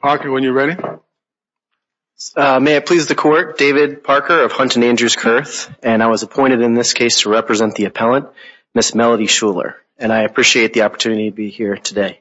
Parker, when you're ready. May it please the court, David Parker of Hunt and Andrews Kurth and I was appointed in this case to represent the appellant Miss Melody Shuler and I appreciate the opportunity to be here today.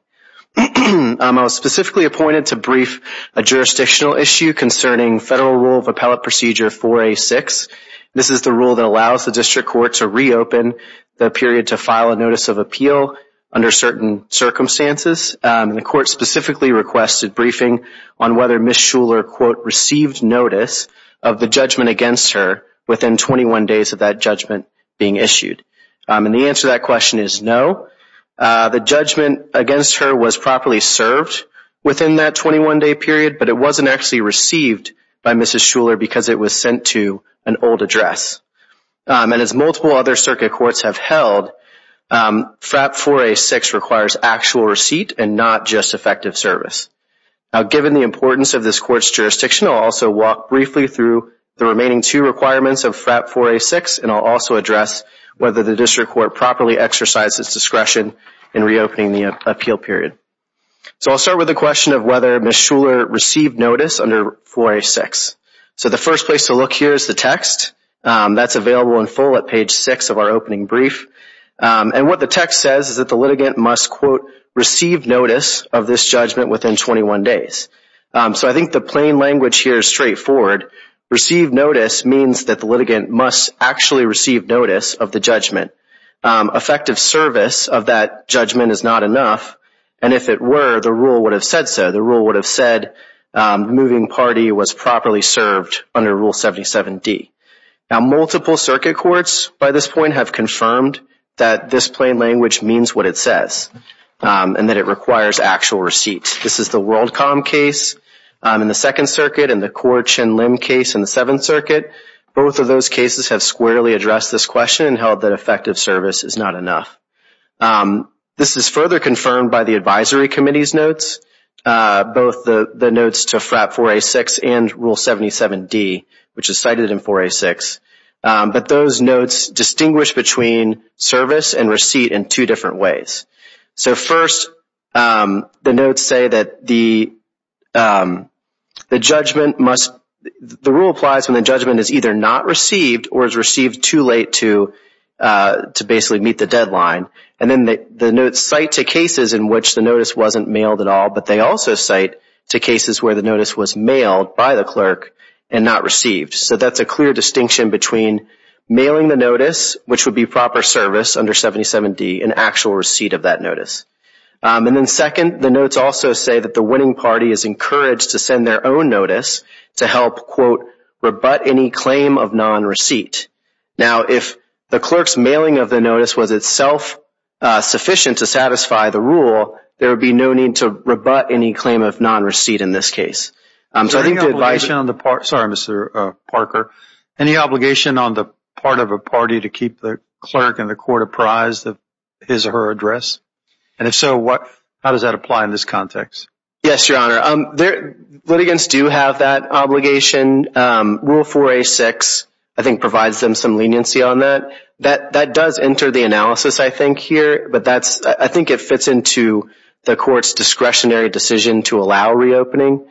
I was specifically appointed to brief a jurisdictional issue concerning federal rule of appellate procedure 4A6. This is the rule that allows the district court to reopen the period to file a notice of appeal under certain circumstances and the court specifically requested briefing on whether Miss Shuler received notice of the judgment against her within 21 days of that judgment being issued. And the answer to that question is no. The judgment against her was properly served within that 21 day period but it wasn't actually received by Mrs. Shuler because it was sent to an old address. And as multiple other and not just effective service. Now given the importance of this court's jurisdiction, I'll also walk briefly through the remaining two requirements of FRAP 4A6 and I'll also address whether the district court properly exercises discretion in reopening the appeal period. So I'll start with the question of whether Miss Shuler received notice under 4A6. So the first place to look here is the text that's available in full at page 6 of our opening brief and what the text says is that the litigant must quote receive notice of this judgment within 21 days. So I think the plain language here is straightforward. Receive notice means that the litigant must actually receive notice of the judgment. Effective service of that judgment is not enough and if it were the rule would have said so. The rule would have said moving party was properly served under Rule 77d. Now multiple circuit courts by this point have confirmed that this plain language means what it says and that it requires actual receipts. This is the WorldCom case in the Second Circuit and the Court Chin Lim case in the Seventh Circuit. Both of those cases have squarely addressed this question and held that effective service is not enough. This is further confirmed by the Advisory Committee's notes. Both the notes to FRAP 4A6 and Rule 77d which is cited in 4A6. But those notes distinguish between service and receipt in two different ways. So first the notes say that the the judgment must the rule applies when the judgment is either not received or is received too late to to basically meet the deadline. And then the notes cite to cases in which the notice wasn't mailed at all but they also cite to cases where the notice was mailed by the clerk and not received. So that's a notice which would be proper service under 77d an actual receipt of that notice. And then second the notes also say that the winning party is encouraged to send their own notice to help quote rebut any claim of non-receipt. Now if the clerk's mailing of the notice was itself sufficient to satisfy the rule there would be no need to rebut any claim of non-receipt in this case. Sorry Mr. Parker. Any obligation on the part of a party to keep the clerk and the court apprised of his or her address? And if so what how does that apply in this context? Yes your honor. Litigants do have that obligation. Rule 4A6 I think provides them some leniency on that. That does enter the analysis I think here. But that's I think it fits into the court's reopening.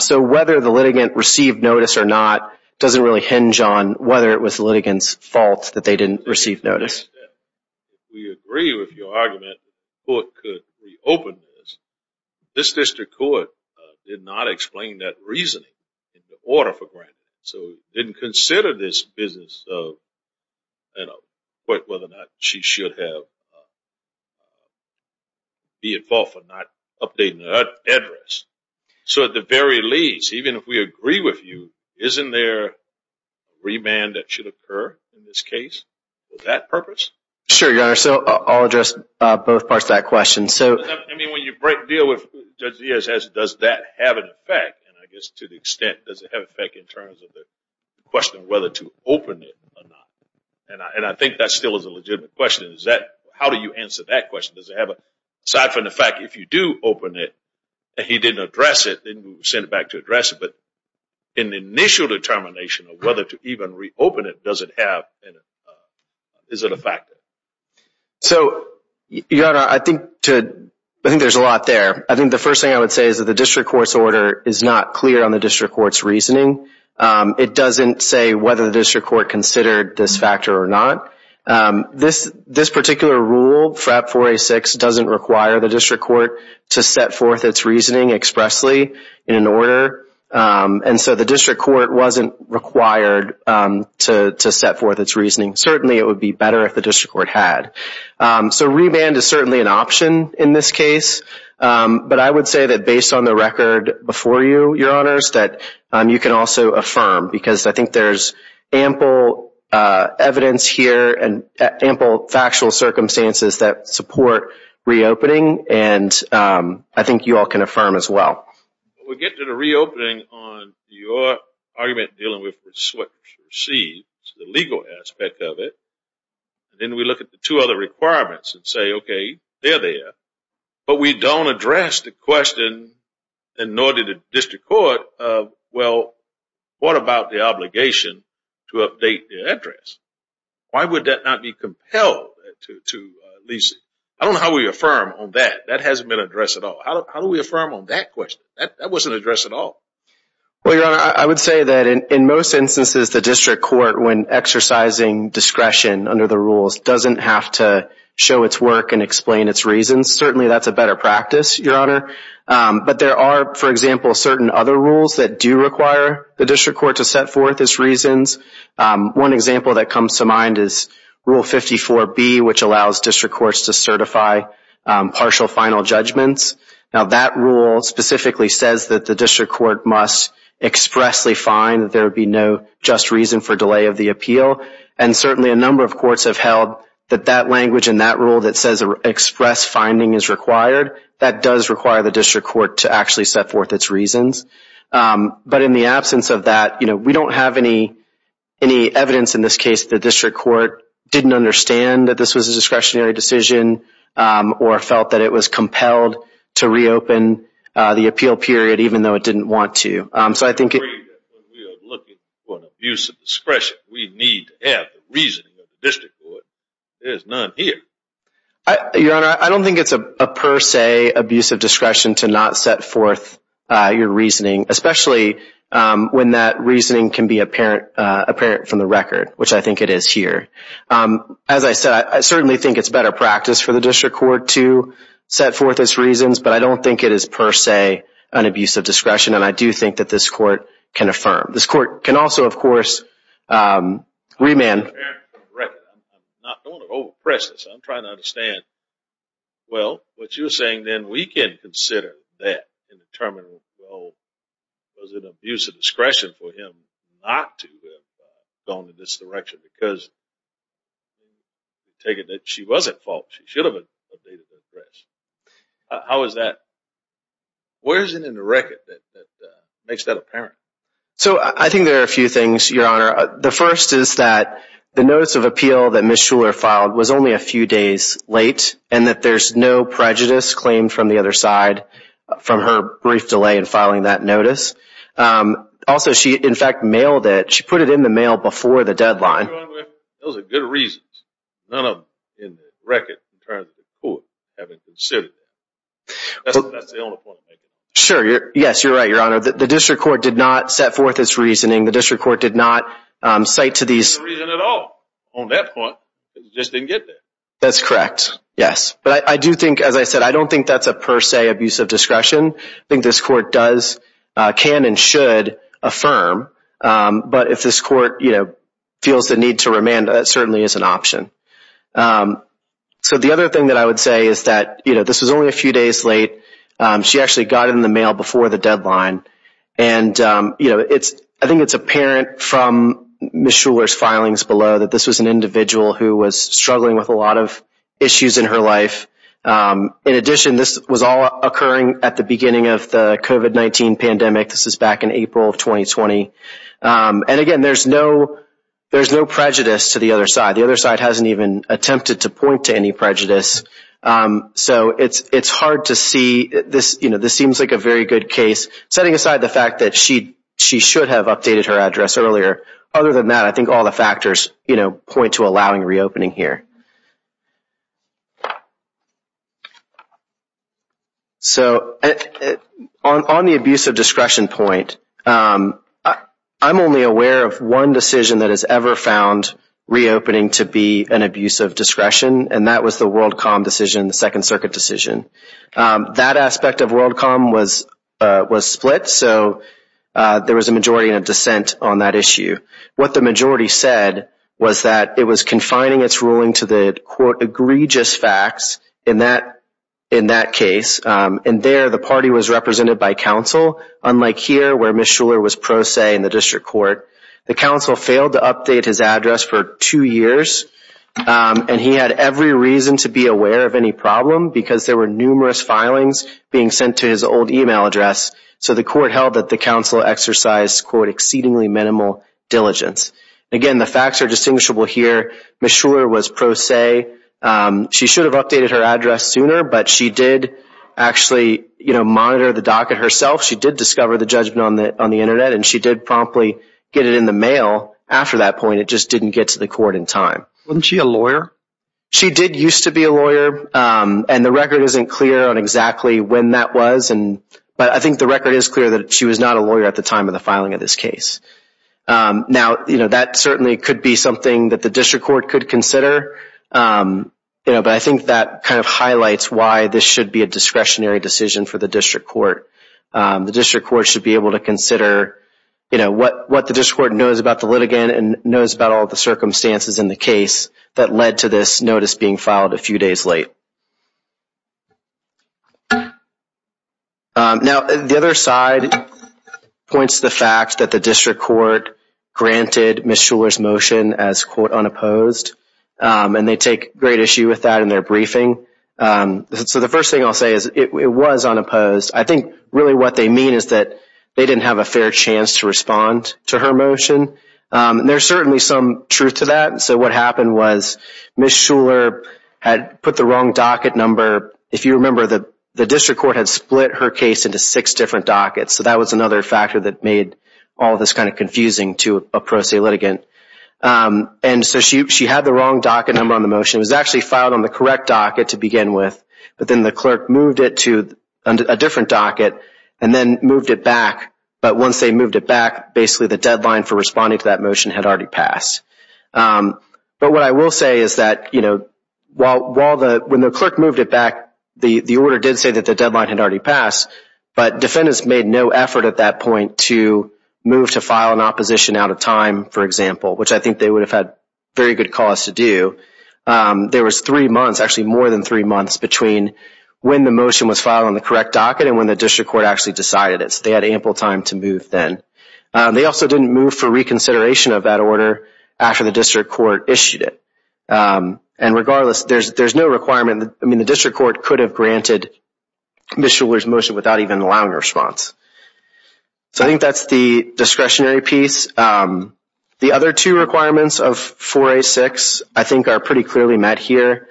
So whether the litigant received notice or not doesn't really hinge on whether it was litigants fault that they didn't receive notice. We agree with your argument the court could reopen this. This district court did not explain that reasoning in order for granted. So didn't consider this business of you know So at the very least even if we agree with you isn't there remand that should occur in this case for that purpose? Sure your honor. So I'll address both parts of that question. So I mean when you break deal with Judge Diaz does that have an effect? And I guess to the extent does it have effect in terms of the question of whether to open it or not? And I think that still is a legitimate question. Is that how do you answer that question? Does it have a side from the fact if you do open it and he didn't address it then send it back to address it. But in the initial determination of whether to even reopen it does it have, is it a factor? So your honor I think to I think there's a lot there. I think the first thing I would say is that the district court's order is not clear on the district court's reasoning. It doesn't say whether the district court considered this factor or not. This particular rule FRAP 406 doesn't require the district court to set forth its reasoning expressly in an order. And so the district court wasn't required to set forth its reasoning. Certainly it would be better if the district court had. So remand is certainly an option in this case. But I would say that based on the record before you your honors that you can also affirm. Because I think there's ample evidence here and ample factual circumstances that support reopening. And I think you all can affirm as well. We get to the reopening on your argument dealing with the legal aspect of it. Then we look at the two other requirements and say okay they're there. But we don't address the question in order to district court of well what about the obligation to update the address? Why would that not be compelled to Lisa? I don't know how we affirm on that. That hasn't been addressed at all. How do we affirm on that question? That wasn't addressed at all. Well your honor I would say that in most instances the district court when exercising discretion under the rules doesn't have to show its work and explain its reasons. Certainly that's a better practice your honor. But there are for example certain other rules that do require the district court to set forth its reasons. One example that comes to mind is rule 54 B which allows district courts to certify partial final judgments. Now that rule specifically says that the district court must expressly find that there would be no just reason for delay of the appeal. And certainly a number of courts have held that that language in that rule that says express finding is required. That does require the district court to actually set forth its reasons. But in the absence of that you know we don't have any any evidence in this case the district court didn't understand that this was a discretionary decision or felt that it was compelled to reopen the appeal period even though it didn't want to. I don't think it's a per se abuse of discretion to not set forth your reasoning especially when that reasoning can be apparent from the record which I think it is here. As I said I certainly think it's better practice for the district court to set forth its reasons but I don't think it is per se an abuse of discretion and I do think that this court can affirm. This court can also of course remand. I'm not going to overpress this. I'm trying to understand. Well what you're saying then we can consider that in the terminal. Was it an abuse of discretion for him not to have gone in this direction because you take it that she was at fault. She should have updated her address. How is that? Where is it in the record that makes that apparent. So I think there are a few things your honor. The first is that the notice of appeal that Ms. Shuler filed was only a few days late and that there's no prejudice claimed from the other side from her brief delay in filing that notice. Also she in fact mailed it. She put it in the mail before the deadline. Those are good reasons. None of them in the record in terms of the court having considered that. That's the only point I'm making. Sure. Yes you're right your honor. The district court did not set forth its reasoning. The district court did not cite to these. There's no reason at all on that point. It just didn't get there. That's correct. Yes but I do think as I said I don't think that's a per se abuse of discretion. I think this court does can and should affirm but if this court you know feels the need to remand that certainly is an option. So the other thing that I would say is that you know this was only a few days late. She actually got in the mail before the deadline and you know it's I think it's apparent from Ms. Shuler's filings below that this was an individual who was struggling with a lot of issues in her life. In addition this was all occurring at the beginning of the COVID-19 pandemic. This is back in April of 2020 and again there's no there's no prejudice to the other side. The other side hasn't even attempted to point to any prejudice. So it's it's hard to see this you know this seems like a very good case setting aside the fact that she she should have updated her address earlier. Other than that I think all the factors you know point to allowing reopening here. So on the abuse of discretion point I'm only aware of one decision that has ever found reopening to be an abuse of discretion and that was the WorldCom decision, the Second Circuit decision. That aspect of WorldCom was was split so there was a majority in a dissent on that issue. What the confining its ruling to the court egregious facts in that in that case and there the party was represented by counsel unlike here where Ms. Shuler was pro se in the district court. The counsel failed to update his address for two years and he had every reason to be aware of any problem because there were numerous filings being sent to his old email address so the court held that the counsel exercised quote exceedingly minimal diligence. Again the facts are Ms. Shuler was pro se. She should have updated her address sooner but she did actually you know monitor the docket herself. She did discover the judgment on the on the internet and she did promptly get it in the mail after that point it just didn't get to the court in time. Wasn't she a lawyer? She did used to be a lawyer and the record isn't clear on exactly when that was and but I think the record is clear that she was not a lawyer at the time of the filing of this case. Now you know that certainly could be something that the district court could consider you know but I think that kind of highlights why this should be a discretionary decision for the district court. The district court should be able to consider you know what what the district court knows about the litigant and knows about all the circumstances in the case that led to this notice being filed a few days late. Now the other side points the fact that the district court granted Ms. Shuler's quote unopposed and they take great issue with that in their briefing. So the first thing I'll say is it was unopposed. I think really what they mean is that they didn't have a fair chance to respond to her motion. There's certainly some truth to that so what happened was Ms. Shuler had put the wrong docket number. If you remember that the district court had split her case into six different dockets so that was another factor that made all this kind of and so she had the wrong docket number on the motion. It was actually filed on the correct docket to begin with but then the clerk moved it to a different docket and then moved it back but once they moved it back basically the deadline for responding to that motion had already passed. But what I will say is that you know while the when the clerk moved it back the the order did say that the deadline had already passed but defendants made no effort at that point to move to file an opposition out of time for example which I think they would have had very good cause to do. There was three months actually more than three months between when the motion was filed on the correct docket and when the district court actually decided it so they had ample time to move then. They also didn't move for reconsideration of that order after the district court issued it and regardless there's there's no requirement I mean the district court could have granted Ms. Shuler's motion without even allowing a response. So I think that's the discretionary piece. The other two requirements of 406 I think are pretty clearly met here.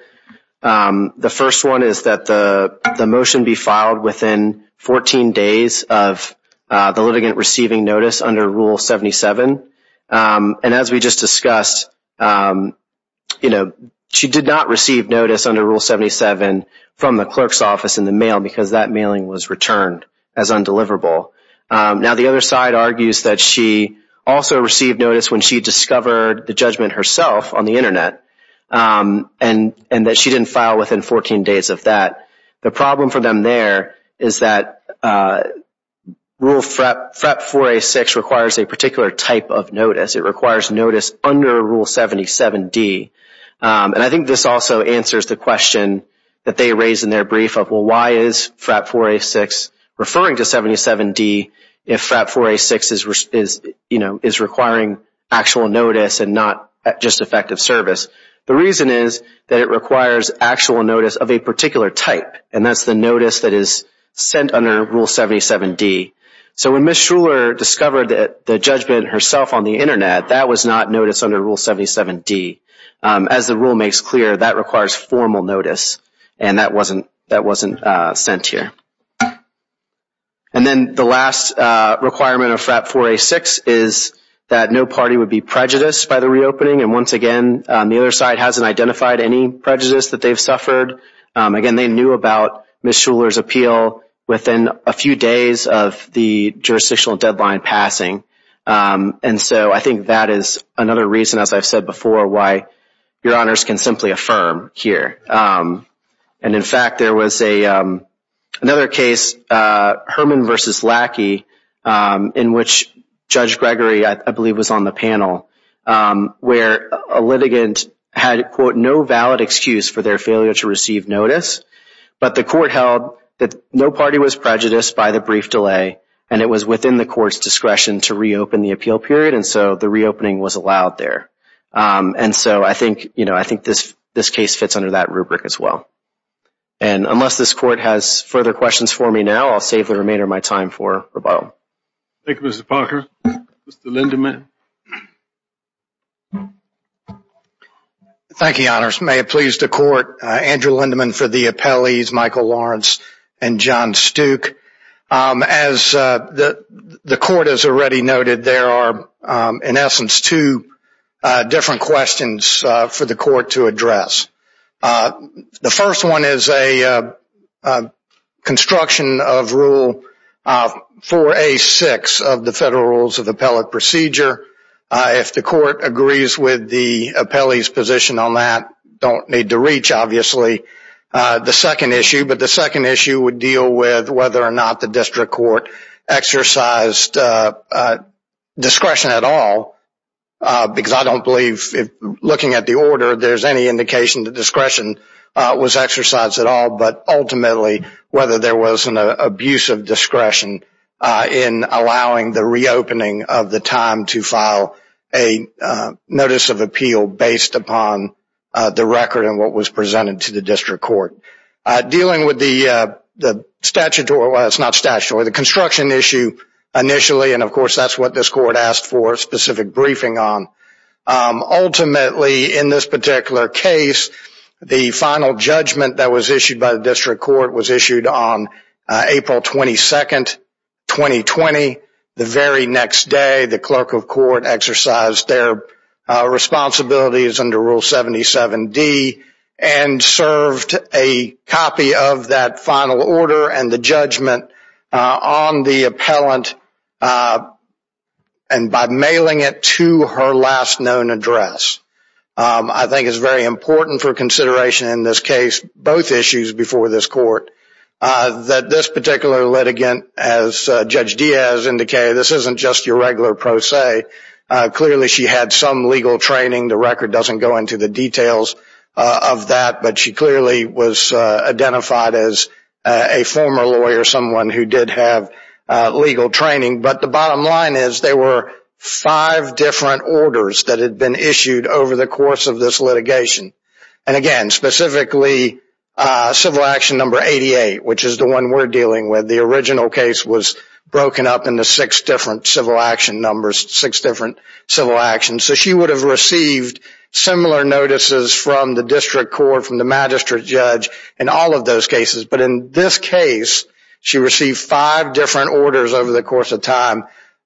The first one is that the the motion be filed within 14 days of the litigant receiving notice under Rule 77 and as we just discussed you know she did not receive notice under Rule 77 from the clerk's office in the mail because that mailing was returned as undeliverable. Now the other side argues that she also received notice when she discovered the judgment herself on the internet and and that she didn't file within 14 days of that. The problem for them there is that Rule FRAP 406 requires a particular type of notice. It requires notice under Rule 77 D and I think this also answers the question that they raised in their brief of well why is FRAP 406 referring to 77 D if FRAP 406 is you know is requiring actual notice and not just effective service. The reason is that it requires actual notice of a particular type and that's the notice that is sent under Rule 77 D. So when Ms. Shuler discovered that the judgment herself on the internet that was not notice under Rule 77 D. As the rule makes clear that requires formal notice and that wasn't that wasn't sent here. And then the last requirement of FRAP 406 is that no party would be prejudiced by the reopening and once again the other side hasn't identified any prejudice that they've suffered. Again they knew about Ms. Shuler's appeal within a few days of the jurisdictional deadline passing and so I think that is another reason as I've said before why your honors can simply affirm here. And in fact there was a another case Herman versus Lackey in which Judge Gregory I believe was on the panel where a litigant had quote no valid excuse for their failure to receive notice but the court held that no party was prejudiced by the brief delay and it was within the court's discretion to reopen the appeal period and so the reopening was allowed there. And so I think you know I think this further questions for me now I'll save the remainder my time for rebuttal. Thank you Mr. Parker. Mr. Lindeman. Thank you honors may it please the court Andrew Lindeman for the appellees Michael Lawrence and John Stook. As the the court has already noted there are in essence two different questions for the court to construction of rule 4a 6 of the federal rules of appellate procedure if the court agrees with the appellees position on that don't need to reach obviously the second issue but the second issue would deal with whether or not the district court exercised discretion at all because I don't believe looking at the order there's any indication the discretion was exercised at all but ultimately whether there was an abuse of discretion in allowing the reopening of the time to file a notice of appeal based upon the record and what was presented to the district court. Dealing with the the statutory well it's not statutory the construction issue initially and of course that's what this court asked for specific briefing on. Ultimately in this particular case the final judgment that was issued by the district court was issued on April 22nd 2020 the very next day the clerk of court exercised their responsibilities under rule 77 D and served a copy of that final order and the judgment on the appellant and by mailing it to her last known address I think is very important for consideration in this case both issues before this court that this particular litigant as Judge Diaz indicated this isn't just your regular pro se clearly she had some legal training the record doesn't go into the details of that but she clearly was identified as a former lawyer someone who did have legal training but the bottom line is they were five different orders that had been issued over the course of this litigation and again specifically civil action number 88 which is the one we're dealing with the original case was broken up into six different civil action numbers six different civil actions so she would have received similar notices from the district court from the magistrate judge in all of those cases but in this case she received five different orders over the course of time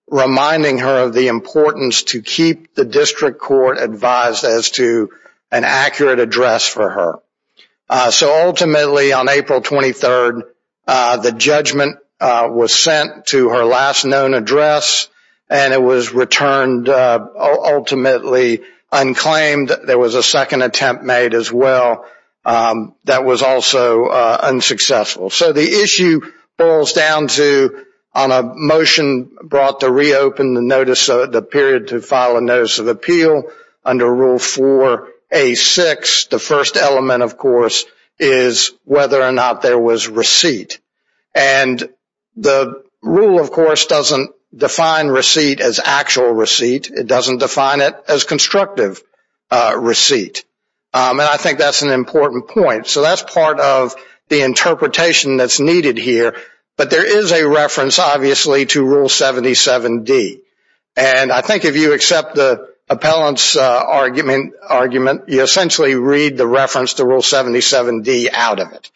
reminding her of the importance to keep the district court advised as to an accurate address for her so ultimately on April 23rd the judgment was sent to her last known address and it was returned ultimately unclaimed there was a second attempt made as well that was also unsuccessful so the issue boils down to on a motion brought to reopen the notice of the period to file a notice of appeal under rule for a six the first element of course is whether or not there was receipt and the rule of course doesn't define receipt as actual receipt it doesn't define it as constructive receipt I think that's an important point so that's part of the interpretation that's needed here but there is a reference obviously to rule 77 D and I think if you accept the appellant's argument argument you essentially read the reference to rule 77 D out of it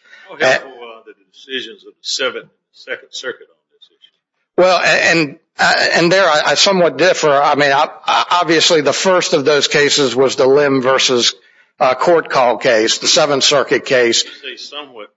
well and and there I somewhat differ I mean obviously the first of those cases was the limb versus court call case the Seventh Circuit case where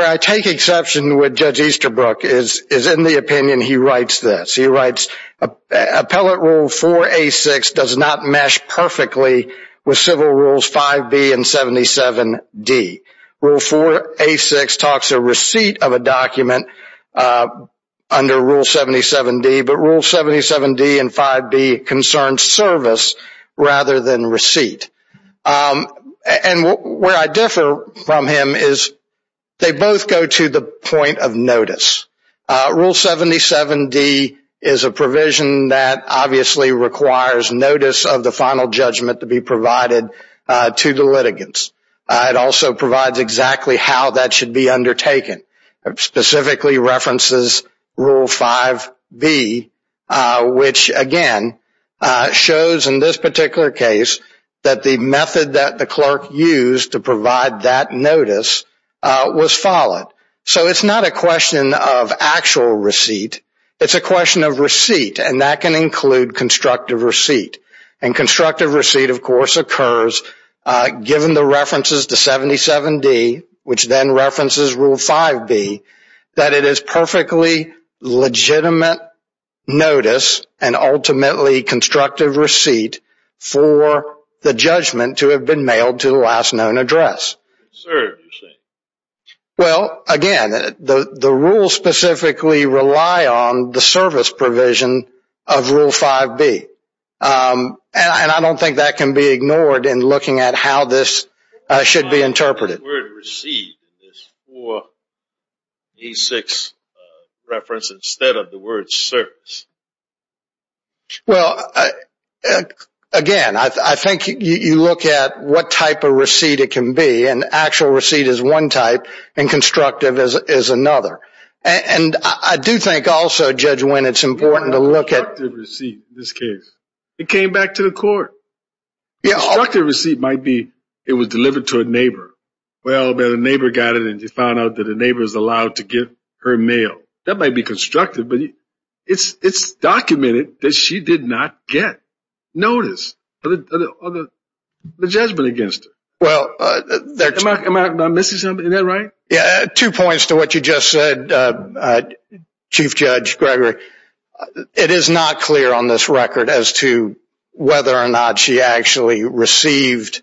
I take exception with judge Easterbrook is is in the opinion he writes this he writes a pellet rule for a six does not mesh perfectly with civil rules 5b and 77 D rule for a six talks a document under rule 77 D but rule 77 D and 5b concerns service rather than receipt and where I differ from him is they both go to the point of notice rule 77 D is a provision that obviously requires notice of the final judgment to be provided to the litigants it also provides exactly how that should be undertaken specifically references rule 5b which again shows in this particular case that the method that the clerk used to provide that notice was followed so it's not a question of actual receipt it's a question of receipt and that can include constructive receipt and constructive receipt of course occurs given the references to 77 D which then references rule 5b that it is perfectly legitimate notice and ultimately constructive receipt for the judgment to have been mailed to the last known address well again the the rules specifically rely on the service provision of rule 5b and I don't think that can be ignored in looking at how this should be interpreted why is the word receipt in this 4e6 reference instead of the word service well again I think you look at what type of receipt it can be an actual receipt is one type and constructive is another and I do think also Judge Wynn it's important to look at the receipt in this case it came back to the court yeah constructive receipt might be it was delivered to a neighbor well but a neighbor got it and you found out that a neighbor is allowed to give her mail that might be constructive but it's it's documented that she did not get notice but the judgment against her well there's my missus something that right two points to what you just said Chief Judge Gregory it is not clear on this record as to whether or not she actually received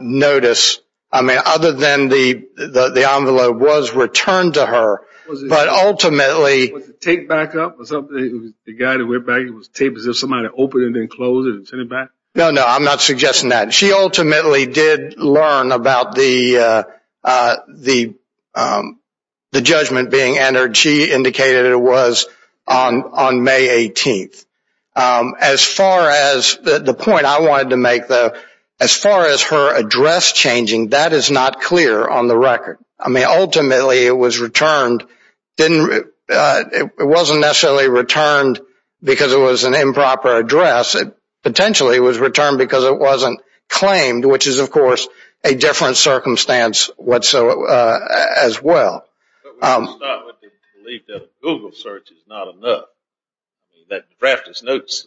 notice I mean other than the the envelope was returned to her but ultimately take back up or something the guy that went back it was tape as if somebody opened it and closed it and sent it back no no I'm not suggesting that she ultimately did learn about the the the judgment being entered she indicated it was on on May 18th as far as the point I wanted to make the as far as her address changing that is not clear on the record I mean ultimately it was returned didn't it wasn't necessarily returned because it was an improper address it potentially was returned because it wasn't claimed which is of course a different circumstance what so as well Google search is not enough that practice notes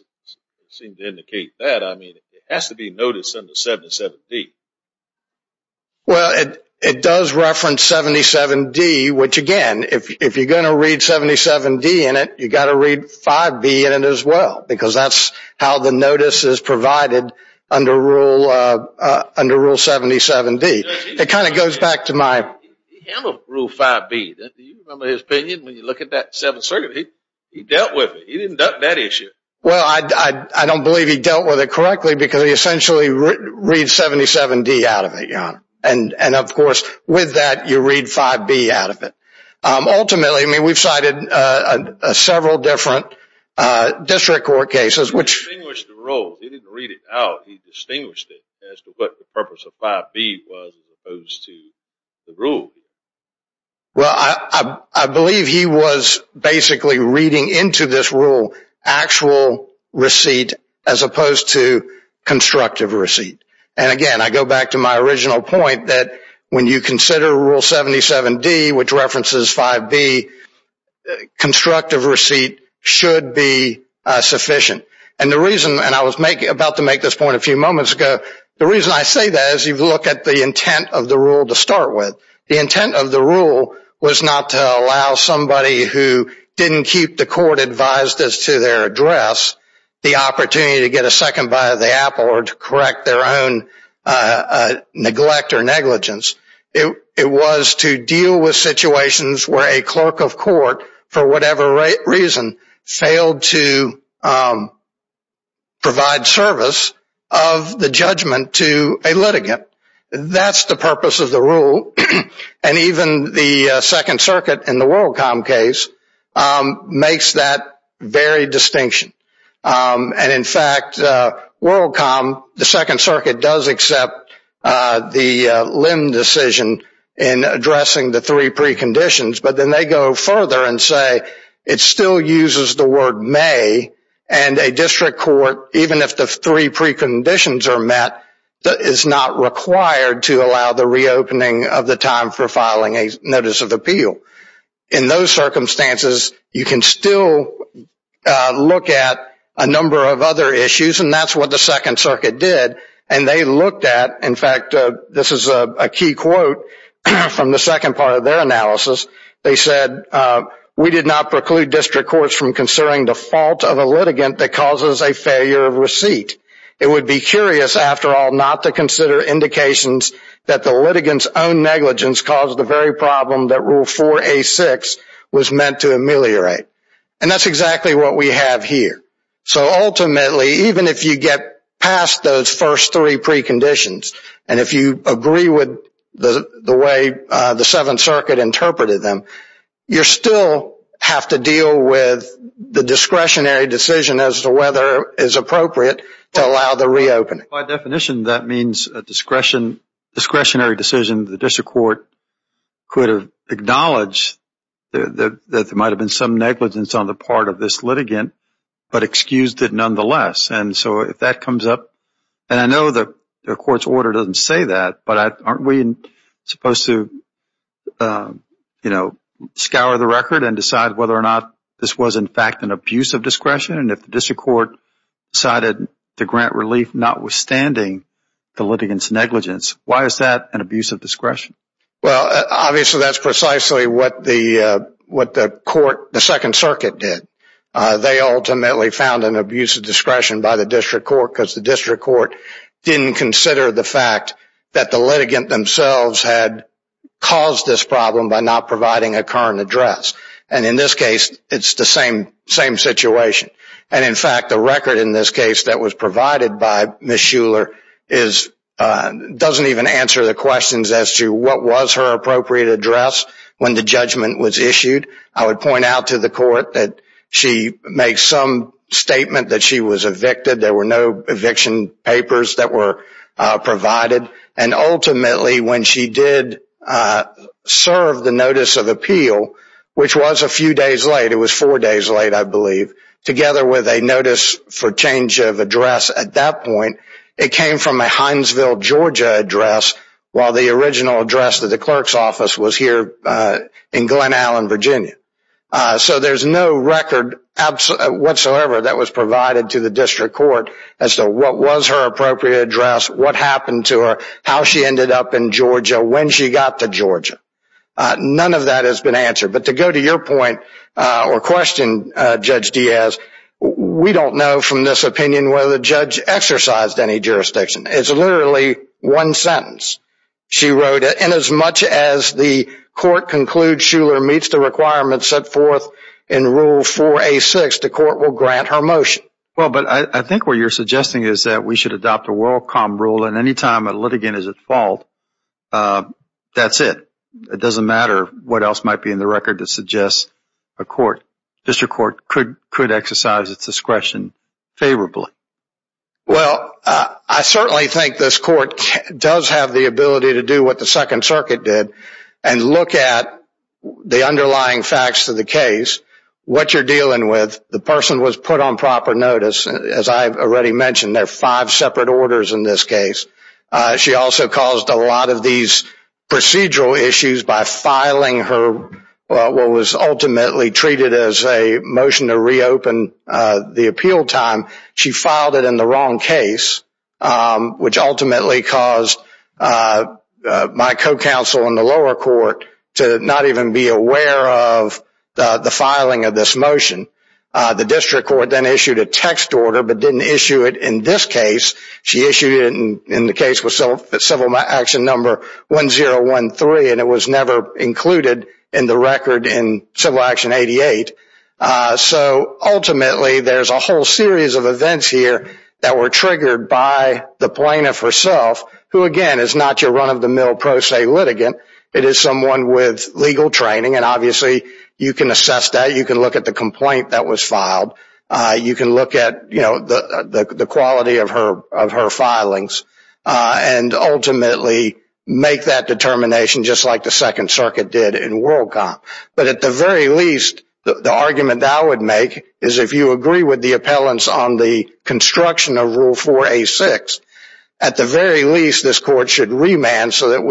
seem to indicate that I mean it has to be noticed in the 77 D well it it does reference 77 D which again if you're going to read 77 D in it you got to read 5 B in it as well because that's how the notice is goes back to my rule 5 B that his opinion when you look at that seven certainly he dealt with it he didn't duck that issue well I I don't believe he dealt with it correctly because he essentially read 77 D out of it you know and and of course with that you read 5 B out of it ultimately I mean we've cited a several different district court cases which rule he didn't read it out he distinguished it as to what the purpose of 5 B was opposed to the rule well I I believe he was basically reading into this rule actual receipt as opposed to constructive receipt and again I go back to my original point that when you consider rule 77 D which references 5 B constructive receipt should be sufficient and the reason and I was making about to make this point a few moments ago the reason I say that as you look at the intent of the rule to start with the intent of the rule was not to allow somebody who didn't keep the court advised as to their address the opportunity to get a second bite of the apple or to correct their own neglect or negligence it it was to deal with situations where a clerk of court for whatever rate reason failed to provide service of the judgment to a litigant that's the purpose of the rule and even the Second Circuit in the WorldCom case makes that very distinction and in fact WorldCom the Second Circuit does accept the limb decision in addressing the three preconditions but then they go further and say it still uses the word may and a district court even if the three preconditions are met that is not required to allow the reopening of the time for filing a notice of appeal in those circumstances you can still look at a number of other issues and that's what the Second Circuit did and they looked at in fact this is a key quote from the second part of their analysis they said we did not preclude district courts from considering the fault of a litigant that causes a failure of receipt it would be curious after all not to consider indications that the litigants own negligence caused the very problem that rule 4a 6 was meant to ameliorate and that's exactly what we have here so ultimately even if you get past those first three preconditions and if you agree with the the way the Seventh Circuit interpreted them you still have to deal with the discretionary decision as to whether is appropriate to allow the reopening by definition that means discretion discretionary decision the district court could have acknowledged that there might have been some negligence on the part of this litigant but excused it nonetheless and so if that comes up and I know the court's order doesn't say that but aren't we supposed to you know scour the record and decide whether or not this was in fact an abuse of discretion and if the district court decided to grant relief notwithstanding the litigants negligence why is that an abuse of discretion well obviously that's precisely what the what the court the Second Circuit did they ultimately found an abuse of discretion by the district court because the district court didn't consider the fact that the litigant themselves had caused this problem by not providing a current address and in this case it's the same same situation and in fact the record in this case that was provided by Miss Shuler is doesn't even answer the questions as to what was her appropriate address when the judgment was issued I would point out to the court that she makes some statement that she was evicted there were no eviction papers that were provided and ultimately when she did serve the notice of appeal which was a few days later was four days late I believe together with a notice for change of address at that point it came from a Hinesville Georgia address while the original address to the clerk's so there's no record whatsoever that was provided to the district court as to what was her appropriate address what happened to her how she ended up in Georgia when she got to Georgia none of that has been answered but to go to your point or question judge Diaz we don't know from this opinion whether the judge exercised any jurisdiction it's literally one sentence she wrote it and as much as the court concludes Shuler meets the requirements set forth in rule for a six the court will grant her motion well but I think what you're suggesting is that we should adopt a WorldCom rule and anytime a litigant is at fault that's it it doesn't matter what else might be in the record to suggest a court district court could could exercise its discretion favorably well I certainly think this court does have the ability to do what the second circuit did and look at the underlying facts of the case what you're dealing with the person was put on proper notice as I've already mentioned there are five separate orders in this case she also caused a lot of these procedural issues by filing her what was ultimately treated as a motion to reopen the lower court to not even be aware of the filing of this motion the district court then issued a text order but didn't issue it in this case she issued in the case was so civil action number 1013 and it was never included in the record in civil action 88 so ultimately there's a whole series of events here that were triggered by the plaintiff herself who again is not your run-of-the-mill pro se litigant it is someone with legal training and obviously you can assess that you can look at the complaint that was filed you can look at you know the quality of her of her filings and ultimately make that determination just like the Second Circuit did in WorldCom but at the very least the argument I would make is if you agree with the appellants on the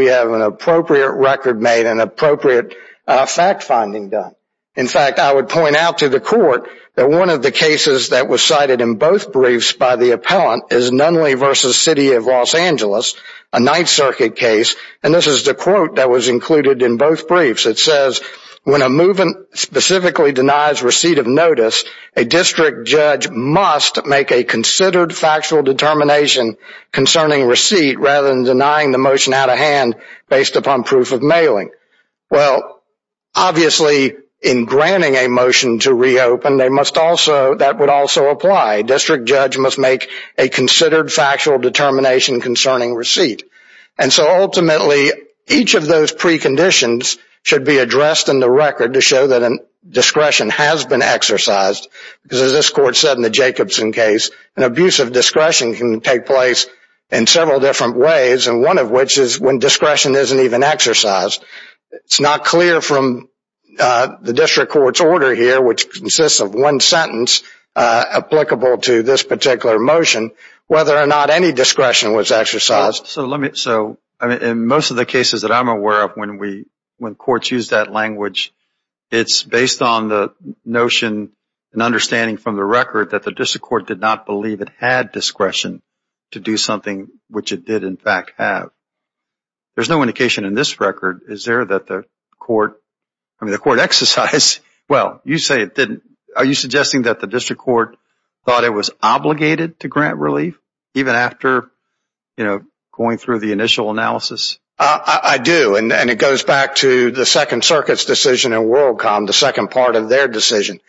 have an appropriate record made an appropriate fact-finding done in fact I would point out to the court that one of the cases that was cited in both briefs by the appellant is Nunley versus City of Los Angeles a Ninth Circuit case and this is the quote that was included in both briefs it says when a movement specifically denies receipt of notice a district judge must make a considered factual determination concerning receipt rather than denying the motion out of hand based upon proof of mailing well obviously in granting a motion to reopen they must also that would also apply district judge must make a considered factual determination concerning receipt and so ultimately each of those preconditions should be addressed in the record to show that an discretion has been exercised because as this court said in the Jacobson case an abuse of discretion can take place in several different ways and one of which is when discretion isn't even exercised it's not clear from the district court's order here which consists of one sentence applicable to this particular motion whether or not any discretion was exercised so let me so I mean in most of the cases that I'm aware of when we when courts use that language it's based on the notion and understanding from the record that the district court did not believe it had discretion to do something which it did in fact have there's no indication in this record is there that the court I mean the court exercise well you say it didn't are you suggesting that the district court thought it was obligated to grant relief even after you know going through the initial analysis I do and then it goes back to the Second Circuit's decision in WorldCom the second part of their decision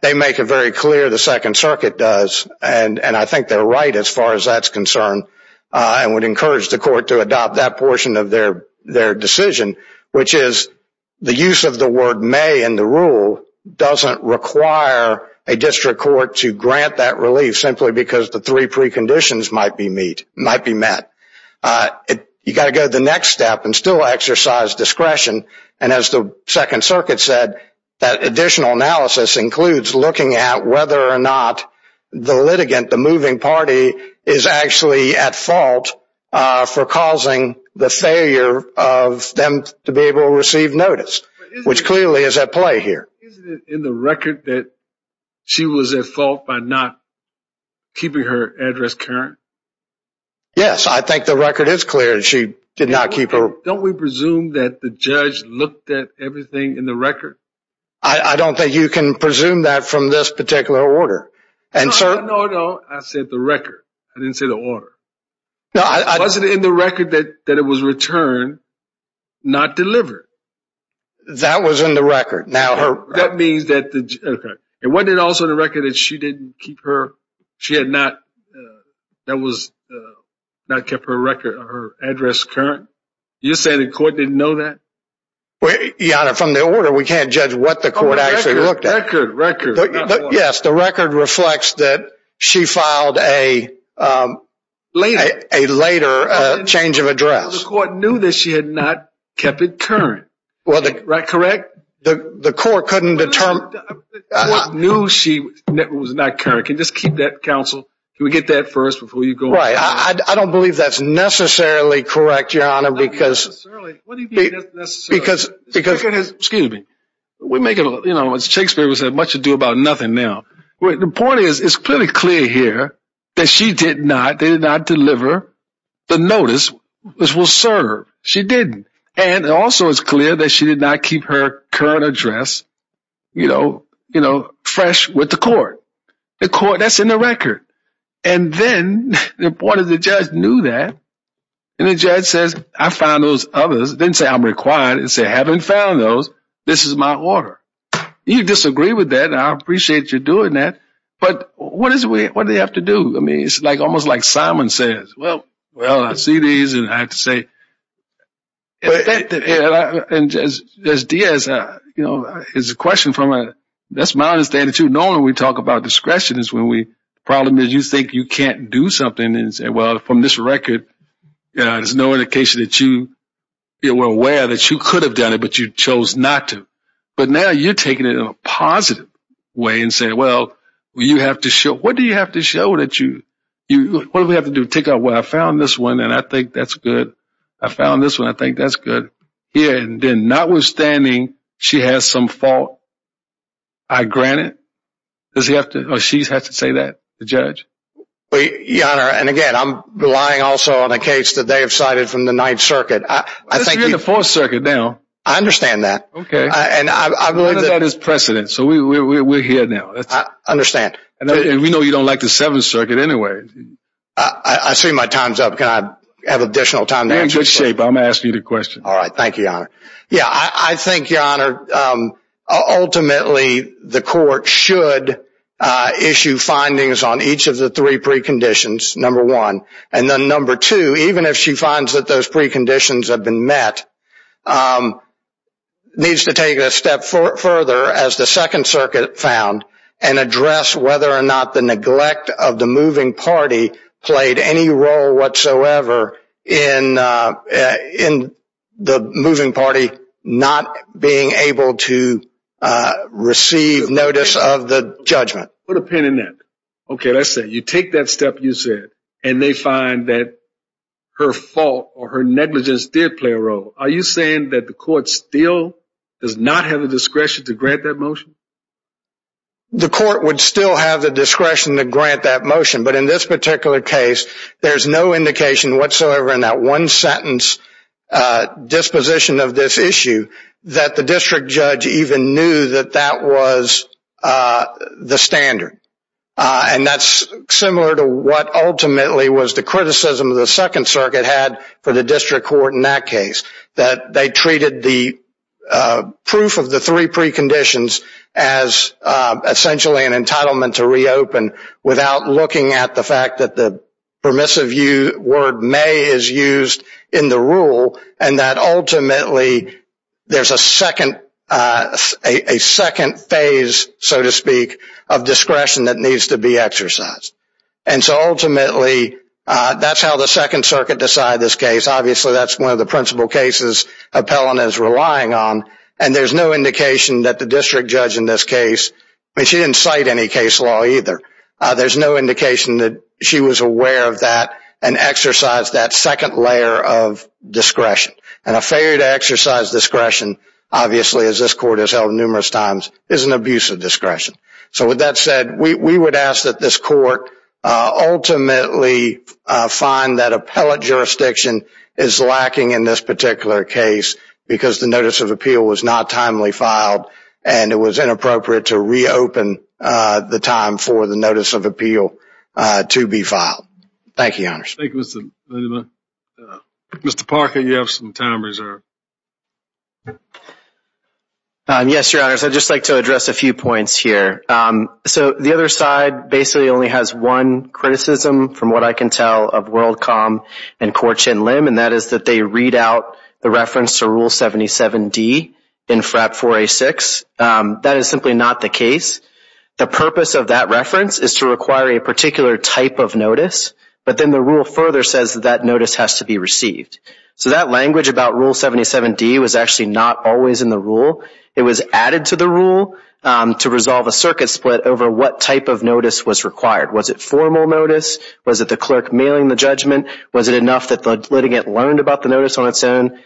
they make it very clear the and I think they're right as far as that's concerned I would encourage the court to adopt that portion of their their decision which is the use of the word may in the rule doesn't require a district court to grant that relief simply because the three preconditions might be meet might be met you got to go to the next step and still exercise discretion and as the Second Circuit said that additional analysis includes looking at whether or not the litigant the moving party is actually at fault for causing the failure of them to be able to receive notice which clearly is at play here in the record that she was at fault by not keeping her address Karen yes I think the record is clear she did not keep her don't we presume that the judge looked at everything in the record I don't think you can presume that from this particular order and sir no no I said the record I didn't say the order no I wasn't in the record that that it was returned not delivered that was in the record now her that means that the it wasn't also the record that she didn't keep her she had not that was not kept her record her address current you're saying the court didn't know that well yeah from the order we can't judge what the court actually looked at record record yes the record reflects that she filed a later a later change of address what knew that she had not kept it current well the correct the the court couldn't determine what knew she was not current can just keep that counsel can we get that first before you go right I don't believe that's necessarily correct your honor because because because excuse me we make it you know it's Shakespeare was that much to do about nothing now the point is it's pretty clear here that she did not they did not deliver the notice this will serve she didn't and it also is clear that she did not keep her current address you know you know fresh with the court the court that's in the and the judge says I found those others didn't say I'm required and say I haven't found those this is my order you disagree with that I appreciate you doing that but what is we what do you have to do I mean it's like almost like Simon says well well I see these and I have to say and just as Diaz uh you know it's a question from a that's my understanding to know when we talk about discretion is when we problem is you think you can't do something and say well from this record you know there's no indication that you you were aware that you could have done it but you chose not to but now you're taking it in a positive way and say well you have to show what do you have to show that you you what do we have to do take out where I found this one and I think that's good I found this one I think that's good yeah and then notwithstanding she has some fault I grant it does he have to know she's say that the judge we honor and again I'm relying also on a case that they have cited from the Ninth Circuit I thank you for circuit now I understand that okay and I believe that is precedent so we're here now I understand and we know you don't like the Seventh Circuit anyway I see my time's up can I have additional time to shape I'm asking you the question all right thank you yeah I think your honor ultimately the court should issue findings on each of the three preconditions number one and then number two even if she finds that those preconditions have been met needs to take a step further as the Second Circuit found and address whether or not the neglect of the moving party played any role whatsoever in in the moving party not being able to receive notice of the judgment put a pin in that okay let's say you take that step you said and they find that her fault or her negligence did play a role are you saying that the court still does not have a discretion to grant that motion the court would still have the discretion to grant that motion but in this particular case there's no indication whatsoever in that one sentence disposition of this issue that the district judge even knew that that was the standard and that's similar to what ultimately was the criticism of the Second Circuit had for the district court in that case that they treated the proof of the three preconditions as essentially an entitlement to reopen without looking at the fact that the permissive you word may is used in the rule and that ultimately there's a second a second phase so to speak of discretion that needs to be exercised and so ultimately that's how the Second Circuit decide this case obviously that's one of the principal cases appellant is relying on and there's no indication that the district judge in this case she didn't cite any case law either there's no indication that she was aware of that and exercise that second layer of discretion and a failure to exercise discretion obviously as this court is held numerous times is an abuse of discretion so with that said we would ask that this court ultimately find that appellate jurisdiction is lacking in this particular case because the notice of appeal was not timely filed and it was inappropriate to reopen the time for the notice of appeal to be filed thank you mr. Parker you have some time reserved yes your honors I'd just like to address a few points here so the other side basically only has one criticism from what I can tell of World 77 D in frap for a six that is simply not the case the purpose of that reference is to require a particular type of notice but then the rule further says that notice has to be received so that language about rule 77 D was actually not always in the rule it was added to the rule to resolve a circuit split over what type of notice was required was it formal notice was it the clerk mailing the judgment was it enough that the litigant learned about the notice on its own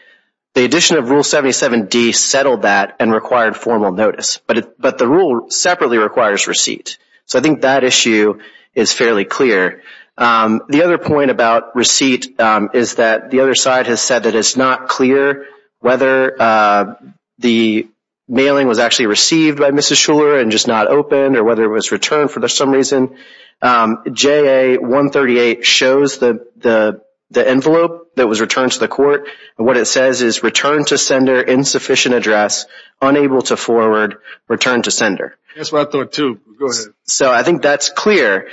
the addition of rule 77 D settled that and required formal notice but but the rule separately requires receipt so I think that issue is fairly clear the other point about receipt is that the other side has said that it's not clear whether the mailing was actually received by mrs. Schuller and just not open or whether it was returned for some reason ja-138 shows the the envelope that was returned to the court and what it says is returned to sender insufficient address unable to forward return to sender so I think that's clear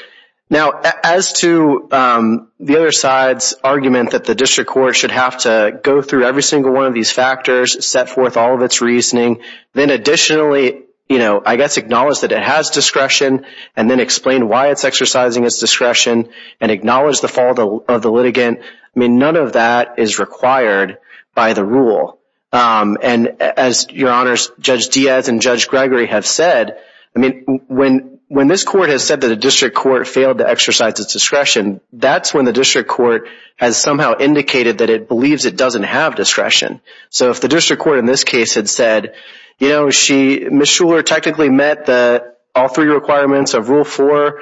now as to the other side's argument that the district court should have to go through every single one of these factors set forth all of its reasoning then additionally you know I guess acknowledge that it has discretion and then explain why it's exercising its discretion and acknowledge the fall of the litigant I mean none of that is required by the rule and as your honors judge Diaz and judge Gregory have said I mean when when this court has said that a district court failed to exercise its discretion that's when the district court has somehow indicated that it believes it doesn't have discretion so if the district court in this case had you know she Miss Schuller technically met the all three requirements of rule four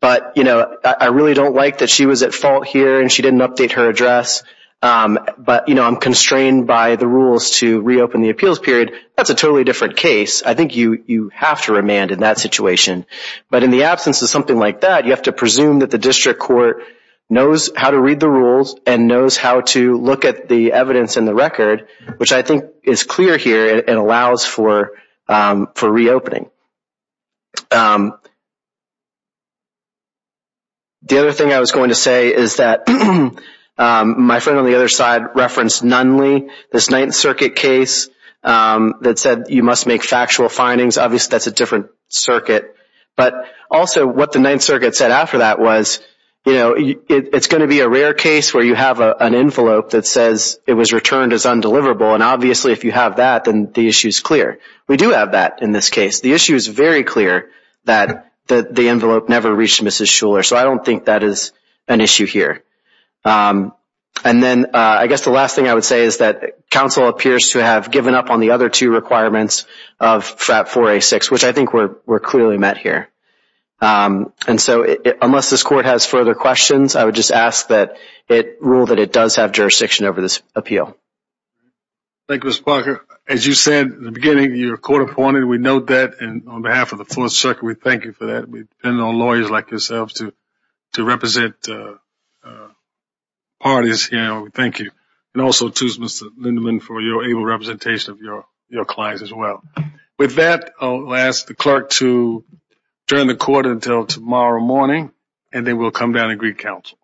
but you know I really don't like that she was at fault here and she didn't update her address but you know I'm constrained by the rules to reopen the appeals period that's a totally different case I think you you have to remand in that situation but in the absence of something like that you have to presume that the district court knows how to read the rules and knows how to look at the evidence in the record which I think is clear here and allows for for reopening the other thing I was going to say is that my friend on the other side referenced Nunley this Ninth Circuit case that said you must make factual findings obviously that's a different circuit but also what the Ninth Circuit said after that was you know it's going to be a rare case where you have an envelope that says it was returned as undeliverable and obviously if you have that then the issue is clear we do have that in this case the issue is very clear that the envelope never reached Mrs. Schuller so I don't think that is an issue here and then I guess the last thing I would say is that counsel appears to have given up on the other two requirements of FRAP 4A6 which I think we're clearly met here and so unless this court has further questions I would just ask that it rule that it does have jurisdiction over this appeal. Thank you Mr. Parker as you said in the beginning your court appointed we note that and on behalf of the Fourth Circuit we thank you for that we depend on lawyers like yourselves to to represent parties you know we thank you and also to Mr. Lindeman for your able representation of your your clients as well with that I'll ask the clerk to adjourn the court until tomorrow morning and then we'll come down and greet counsel.